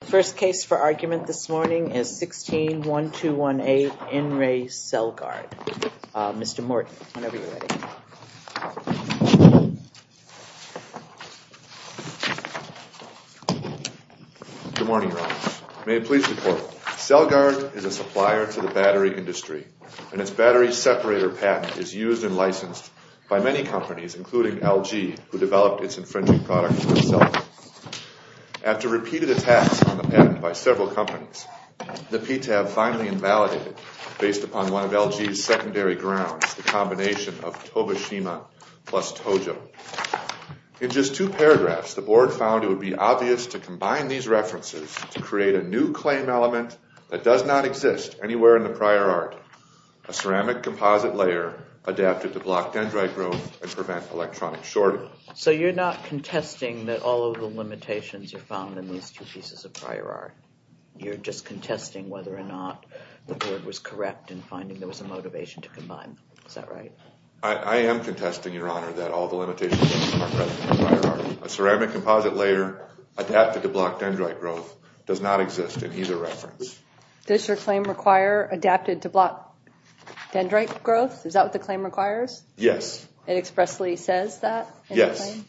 The first case for argument this morning is 16-1218 In Re Celgard. Mr. Morton, whenever you're ready. Good morning, your honor. May it please the court. Celgard is a supplier to the battery industry and its battery separator patent is used and licensed by many companies including LG who on the patent by several companies. The PTAB finally invalidated based upon one of LG's secondary grounds the combination of Tobishima plus Tojo. In just two paragraphs the board found it would be obvious to combine these references to create a new claim element that does not exist anywhere in the prior art. A ceramic composite layer adapted to block dendrite growth and prevent electronic shorting. So you're not contesting that all of the limitations are found in these two prior art. You're just contesting whether or not the board was correct in finding there was a motivation to combine. Is that right? I am contesting, your honor, that all the limitations a ceramic composite layer adapted to block dendrite growth does not exist in either reference. Does your claim require adapted to block dendrite growth? Is that what the claim requires? Yes. It expressly says that? Yes.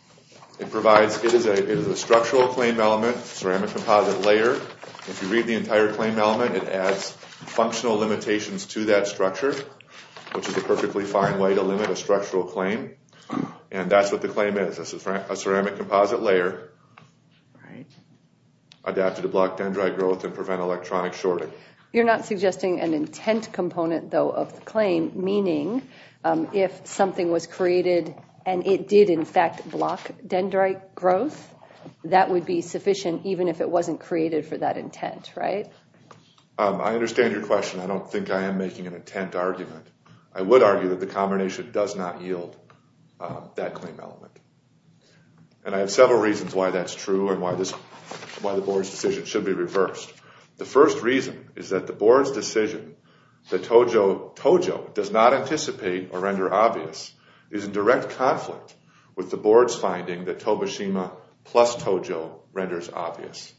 It provides it is a structural claim element ceramic composite layer. If you read the entire claim element it adds functional limitations to that structure which is a perfectly fine way to limit a structural claim and that's what the claim is. It's a ceramic composite layer adapted to block dendrite growth and prevent electronic shorting. You're not suggesting an intent component though of the claim meaning if something was created and it did in fact block dendrite growth that would be sufficient even if it wasn't created for that intent, right? I understand your question. I don't think I am making an intent argument. I would argue that the combination does not yield that claim element and I have several reasons why that's true and why the board's decision should be reversed. The first reason is that the board's decision that Tojo does not anticipate or render obvious is in direct conflict with the board's finding that Tobashima plus Tojo renders obvious.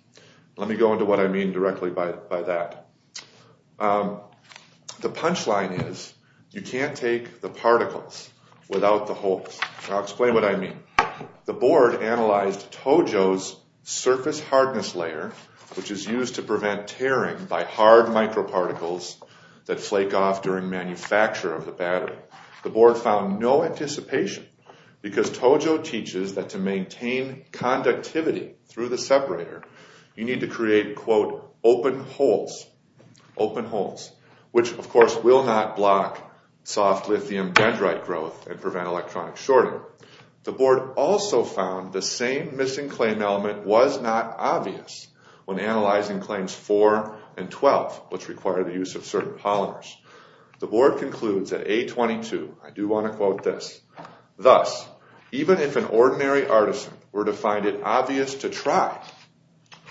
Let me go into what I mean directly by that. The punch line is you can't take the particles without the holes. I'll explain what I mean. The board analyzed Tojo's surface hardness layer which is used to prevent tearing by hard microparticles that flake off during manufacture of the battery. The board found no anticipation because Tojo teaches that to maintain conductivity through the separator you need to create quote open holes open holes which of course will not block soft lithium dendrite growth and prevent electronic shorting. The board also found the same missing claim element was not obvious when analyzing claims 4 and 12 which require the use of certain polymers. The board concludes at A22, I do want to quote this, thus even if an ordinary artisan were to find it obvious to try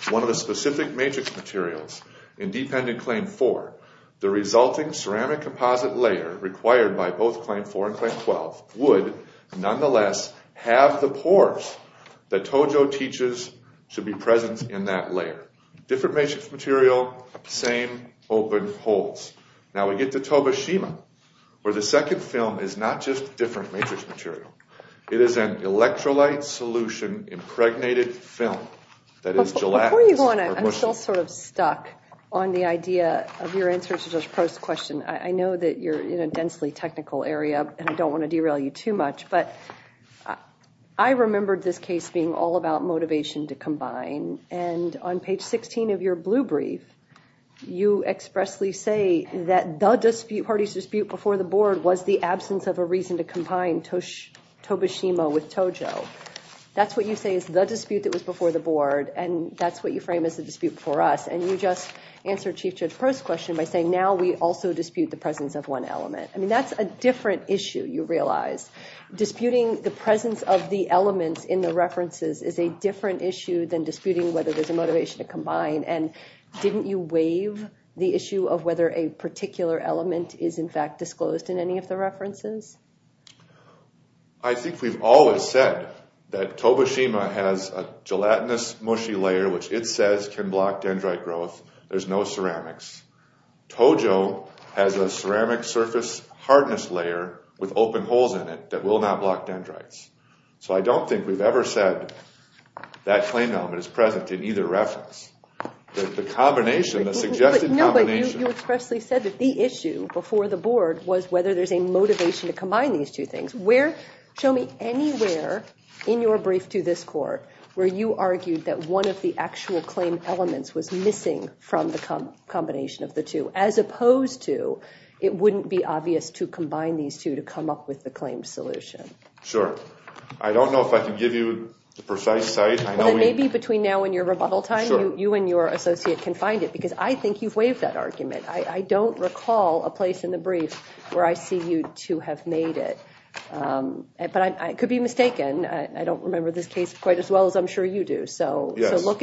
one of the specific matrix materials in dependent claim 4 the resulting ceramic composite layer required by both claim 4 and claim 12 would nonetheless have the pores that Tojo teaches should be present in that layer. Different matrix material, same open holes. Now we get to Tobashima where the second film is not just different matrix material. It is an electrolyte solution impregnated film that is gelatinous. Before you go on I'm still sort of stuck on the idea of your answer to the first question. I know that you're in a densely technical area and I don't want to derail you too much but I remembered this case being all about motivation to combine and on page 16 of your blue brief you expressly say that the dispute party's dispute before the board was the absence of a reason to combine Tobashima with Tojo. That's what you say is the dispute that was before the board and that's what you frame as the dispute before us and you just answer Chief Judge Pro's question by saying now we also dispute the presence of one element. I mean that's a different issue you realize. Disputing the presence of the elements in the references is a different issue than disputing whether there's a motivation to combine and didn't you waive the issue of whether a particular element is in fact disclosed in any of the references? I think we've always said that Tobashima has a gelatinous mushy layer which it says can block dendrite growth. There's no ceramics. Tojo has a ceramic surface hardness layer with open holes in it that will not block dendrites. So I don't think we've ever said that claimed element is present in either reference. The combination, the suggested combination. You expressly said that the issue before the board was whether there's a motivation to combine these two things. Show me anywhere in your brief to this court where you argued that one of the actual claim elements was missing from the combination of the two as opposed to it wouldn't be obvious to combine these two to come up with the claimed solution. Sure. I don't know if I can give you the precise site. Maybe between now and your rebuttal time you and your associate can find it because I think you've waived that argument. I don't recall a place in the brief where I see you to have made it but I could be mistaken. I don't look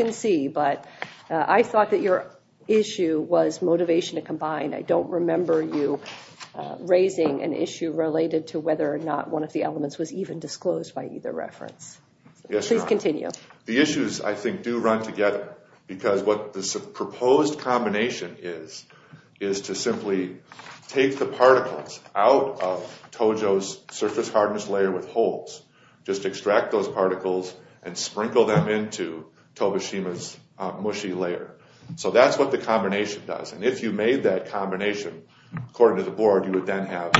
and see but I thought that your issue was motivation to combine. I don't remember you raising an issue related to whether or not one of the elements was even disclosed by either reference. Please continue. The issues I think do run together because what the proposed combination is is to simply take the particles out of Tojo's surface hardness layer with holes. Just extract those particles and sprinkle them into Tobishima's mushy layer. So that's what the combination does and if you made that combination according to the board you would then have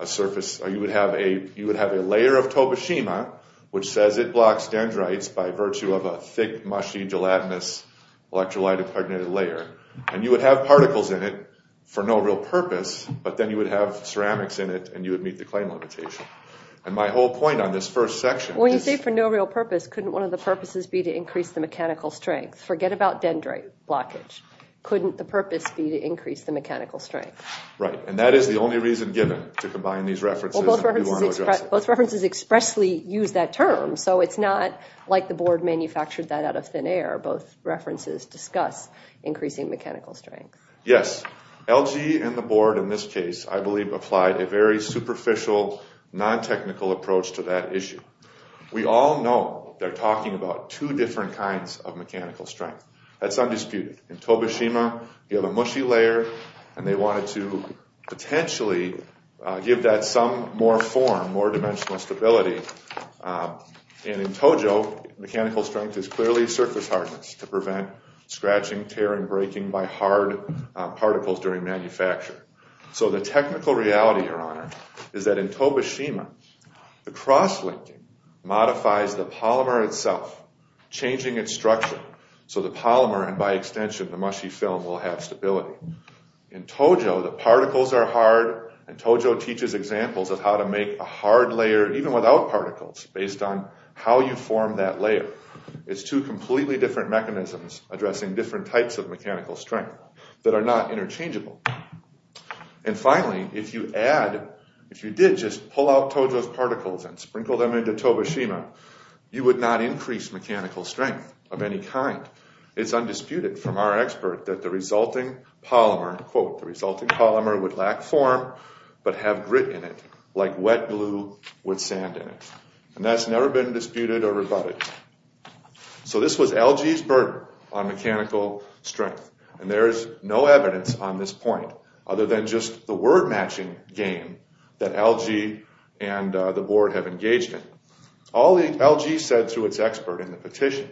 a surface or you would have a you would have a layer of Tobishima which says it blocks dendrites by virtue of a thick mushy gelatinous electrolyte impregnated layer and you would have particles in it for no real purpose but then you would have ceramics in it and you would meet the claim limitation. And my whole point on this first section. When you say for no real purpose couldn't one of the purposes be to increase the mechanical strength? Forget about dendrite blockage. Couldn't the purpose be to increase the mechanical strength? Right and that is the only reason given to combine these references. Both references expressly use that term so it's not like the board manufactured that out of thin air. Both references discuss increasing mechanical strength. Yes LG and the board in this case I issue. We all know they're talking about two different kinds of mechanical strength. That's undisputed. In Tobishima you have a mushy layer and they wanted to potentially give that some more form more dimensional stability and in Tojo mechanical strength is clearly surface hardness to prevent scratching tearing breaking by hard particles during manufacture. So the technical reality your honor is that in Tobishima the cross-linking modifies the polymer itself changing its structure so the polymer and by extension the mushy film will have stability. In Tojo the particles are hard and Tojo teaches examples of how to make a hard layer even without particles based on how you form that layer. It's two completely different mechanisms addressing different types of mechanical strength that are not interchangeable and finally if you add if you did just pull out Tojo's particles and sprinkle them into Tobishima you would not increase mechanical strength of any kind. It's undisputed from our expert that the resulting polymer quote the resulting polymer would lack form but have grit in it like wet glue with sand in it and that's LG's burden on mechanical strength and there is no evidence on this point other than just the word matching game that LG and the board have engaged in. All the LG said through its expert in the petition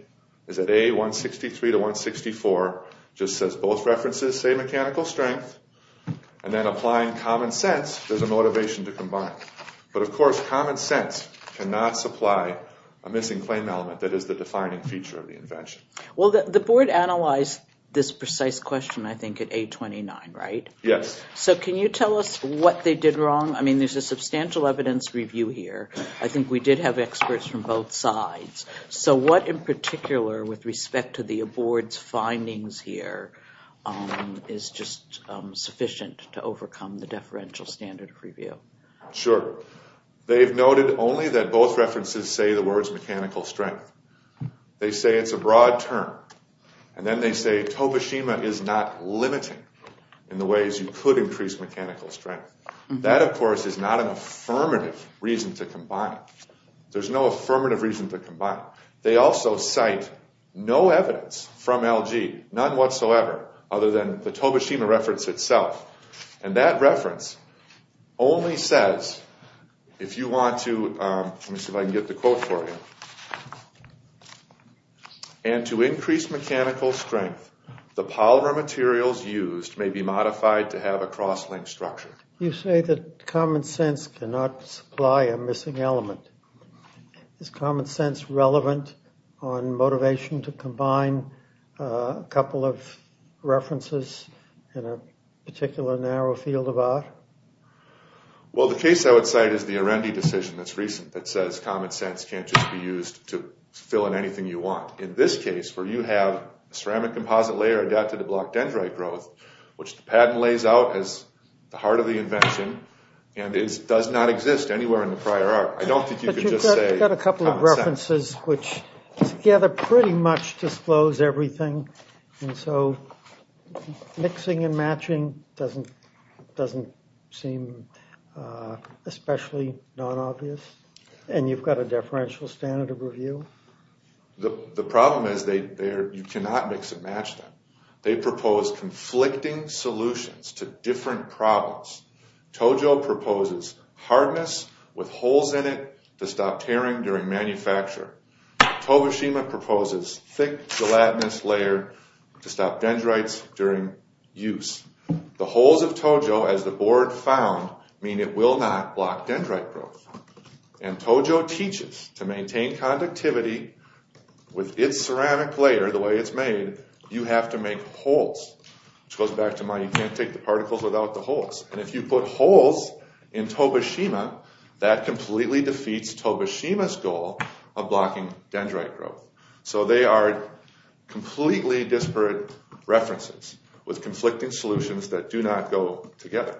is that A163 to 164 just says both references say mechanical strength and then applying common sense there's a motivation to combine but of course common sense cannot supply a missing claim element that is the defining feature of the invention. Well the board analyzed this precise question I think at A29 right? Yes. So can you tell us what they did wrong? I mean there's a substantial evidence review here I think we did have experts from both sides so what in particular with respect to the board's findings here is just sufficient to overcome the deferential standard review. Sure they've noted only that both references say the words mechanical strength they say it's a broad term and then they say Tobishima is not limiting in the ways you could increase mechanical strength that of course is not an affirmative reason to combine there's no affirmative reason to combine they also cite no evidence from LG none whatsoever other than the only says if you want to let me see if I can get the quote for you and to increase mechanical strength the polymer materials used may be modified to have a cross-link structure. You say that common sense cannot supply a missing element is common sense relevant on motivation to combine a couple of references in a particular narrow field of art? Well the case I would cite is the Arendi decision that's recent that says common sense can't just be used to fill in anything you want in this case where you have a ceramic composite layer adapted to block dendrite growth which the patent lays out as the heart of the invention and it does not exist anywhere in the prior art I don't think you could just say I've got a couple of references which together pretty much disclose everything and so mixing and matching doesn't doesn't seem especially non-obvious and you've got a deferential standard of review? The problem is they they're you cannot mix and match them they propose conflicting solutions to different problems. Tojo proposes hardness with holes in it to stop tearing during manufacture. Togashima proposes thick gelatinous layer to stop dendrites during use. The holes of Tojo as the board found mean it will not block dendrite growth and Tojo teaches to maintain conductivity with its ceramic layer the way it's made you have to make holes which goes back to my you can't take the particles without the holes and if you put holes in Togashima that completely defeats Togashima's goal of blocking dendrite growth so they are completely disparate references with conflicting solutions that do not go together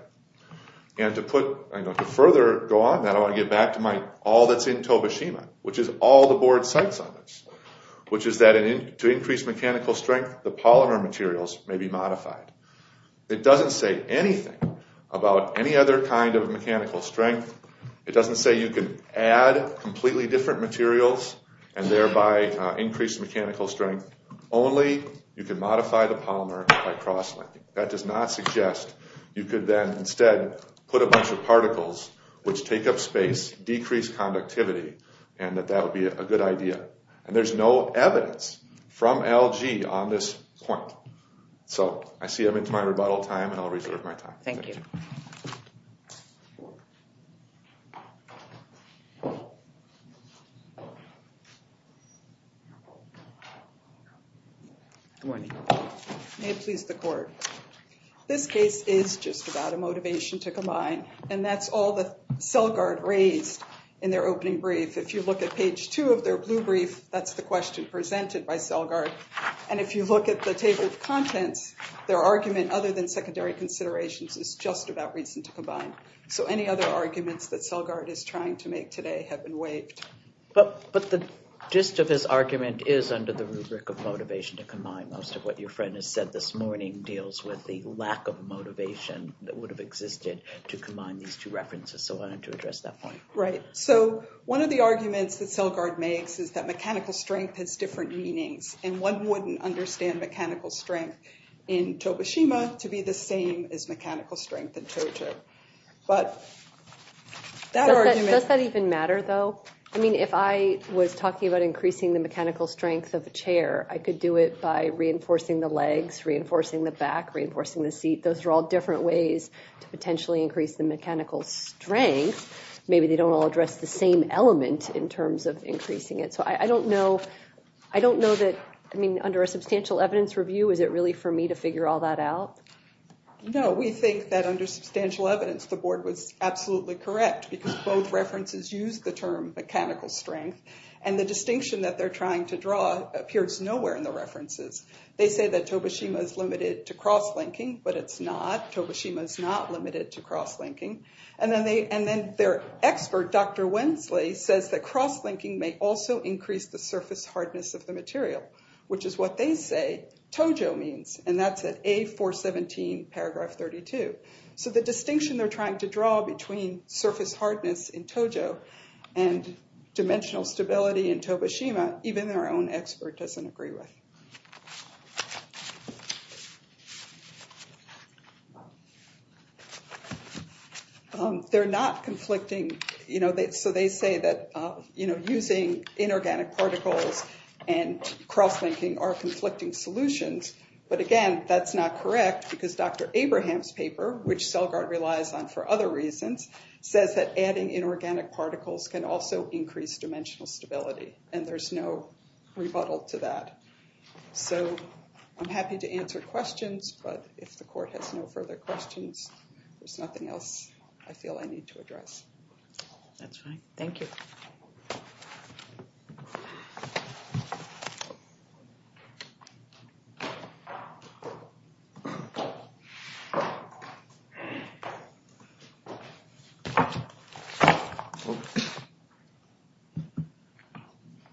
and to put I know to further go on that I want to get back to my all that's in Togashima which is all the board cites on this which is that in to increase mechanical strength the polymer materials may be modified. It doesn't say anything about any other kind of mechanical strength it doesn't say you can add completely different materials and thereby increase mechanical strength only you can modify the polymer by cross-linking that does not suggest you could then instead put a bunch of particles which take up space decrease conductivity and that that would be a good idea and there's no evidence from LG on this point so I see I'm into my rebuttal time and oh good morning may it please the court this case is just about a motivation to combine and that's all the cell guard raised in their opening brief if you look at page two of their blue brief that's the question presented by cell guard and if you look at the table of contents their argument other than secondary considerations is just about reason to combine so any other arguments that cell guard is trying to make today have been waived but but the gist of his argument is under the rubric of motivation to combine most of what your friend has said this morning deals with the lack of motivation that would have existed to combine these two references so I wanted to address that point right so one of the arguments that cell guard makes is that mechanical strength has different meanings and one wouldn't understand mechanical strength in but does that even matter though I mean if I was talking about increasing the mechanical strength of a chair I could do it by reinforcing the legs reinforcing the back reinforcing the seat those are all different ways to potentially increase the mechanical strength maybe they don't all address the same element in terms of increasing it so I don't know I don't know that I mean under a substantial evidence review is it really for me to figure all that out no we think that under substantial evidence the board was absolutely correct because both references use the term mechanical strength and the distinction that they're trying to draw appears nowhere in the references they say that tobashima is limited to cross-linking but it's not tobashima is not limited to cross-linking and then they and then their expert dr wensley says that cross-linking may also increase the surface hardness of the material which is what they say tojo means and the distinction they're trying to draw between surface hardness in tojo and dimensional stability in tobashima even their own expert doesn't agree with they're not conflicting you know so they say that you know using inorganic particles and cross-linking are conflicting solutions but again that's not correct because dr abraham's paper which selgard relies on for other reasons says that adding inorganic particles can also increase dimensional stability and there's no rebuttal to that so i'm happy to answer questions but if the court has no further questions there's nothing else i feel i need to address that's right thank you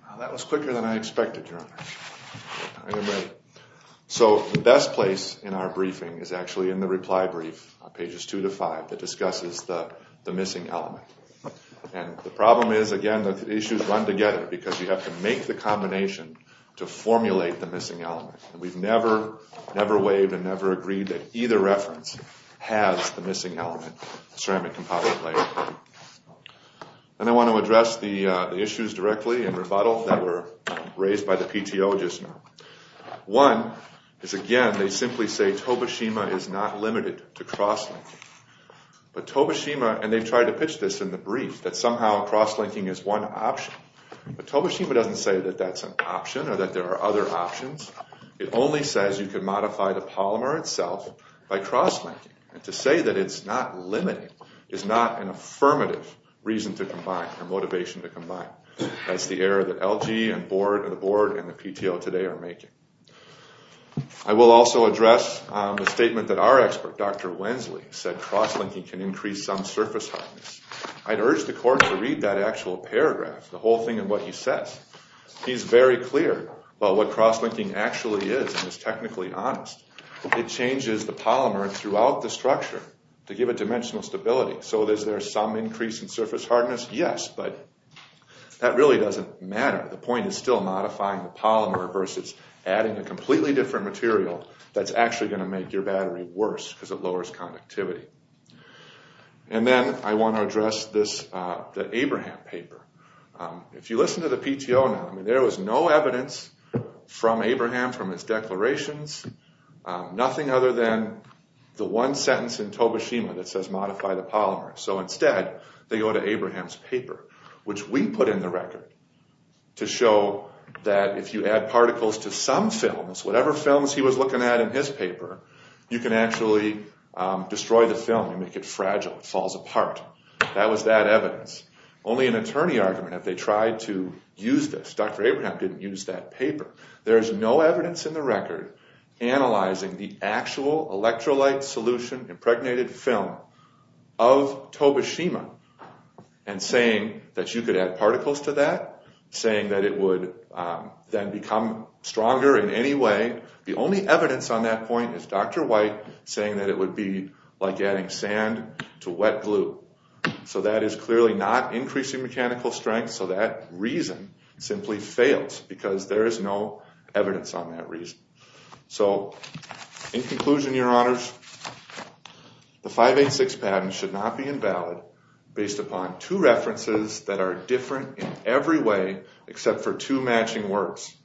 now that was quicker than i expected your honor i am ready so the best place in our briefing is actually in the reply brief on pages two to five that discusses the the missing element and the problem is again the issues run together because you have to make the combination to formulate the missing element and we've never never waved and never agreed that either reference has the missing element ceramic composite layer and i want to address the uh the issues directly and rebuttal that were raised by the pto just now one is again they simply say tobashima is not limited to cross-linking but tobashima and they tried to pitch this in the brief that somehow cross-linking is one option but tobashima doesn't say that that's an option or that there are other options it only says you can modify the polymer itself by cross-linking and to say that it's not limited is not an affirmative reason to combine or motivation to combine that's the error that lg and board and the board and the pto today are making i will also address the statement that our expert dr wensley said cross-linking can increase some surface hardness i'd urge the court to read that actual paragraph the whole thing and what he he's very clear about what cross-linking actually is and is technically honest it changes the polymer throughout the structure to give a dimensional stability so is there some increase in surface hardness yes but that really doesn't matter the point is still modifying the polymer versus adding a completely different material that's actually going to make your battery worse because it lowers conductivity and then i want to address this uh the abraham paper if you listen to the pto now i mean there was no evidence from abraham from his declarations nothing other than the one sentence in tobashima that says modify the polymer so instead they go to abraham's paper which we put in the record to show that if you add particles to some films whatever films he was looking at in his paper you can actually destroy the film and make it to use this dr abraham didn't use that paper there is no evidence in the record analyzing the actual electrolyte solution impregnated film of tobashima and saying that you could add particles to that saying that it would then become stronger in any way the only evidence on that point is dr white saying that it would be like adding sand to wet glue so that is clearly not increasing mechanical strength so that reason simply fails because there is no evidence on that reason so in conclusion your honors the 586 patent should not be invalid based upon two references that are different in every way except for two matching words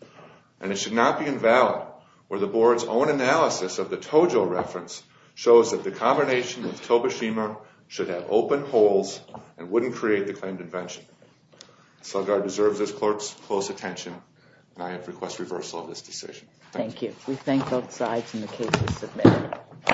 and it should not be invalid or the board's own analysis of the tojo reference shows that the combination of tobashima should have open holes and wouldn't create the claimed invention so i deserve this clerk's close attention and i have request reversal of this decision thank you we thank both sides in the case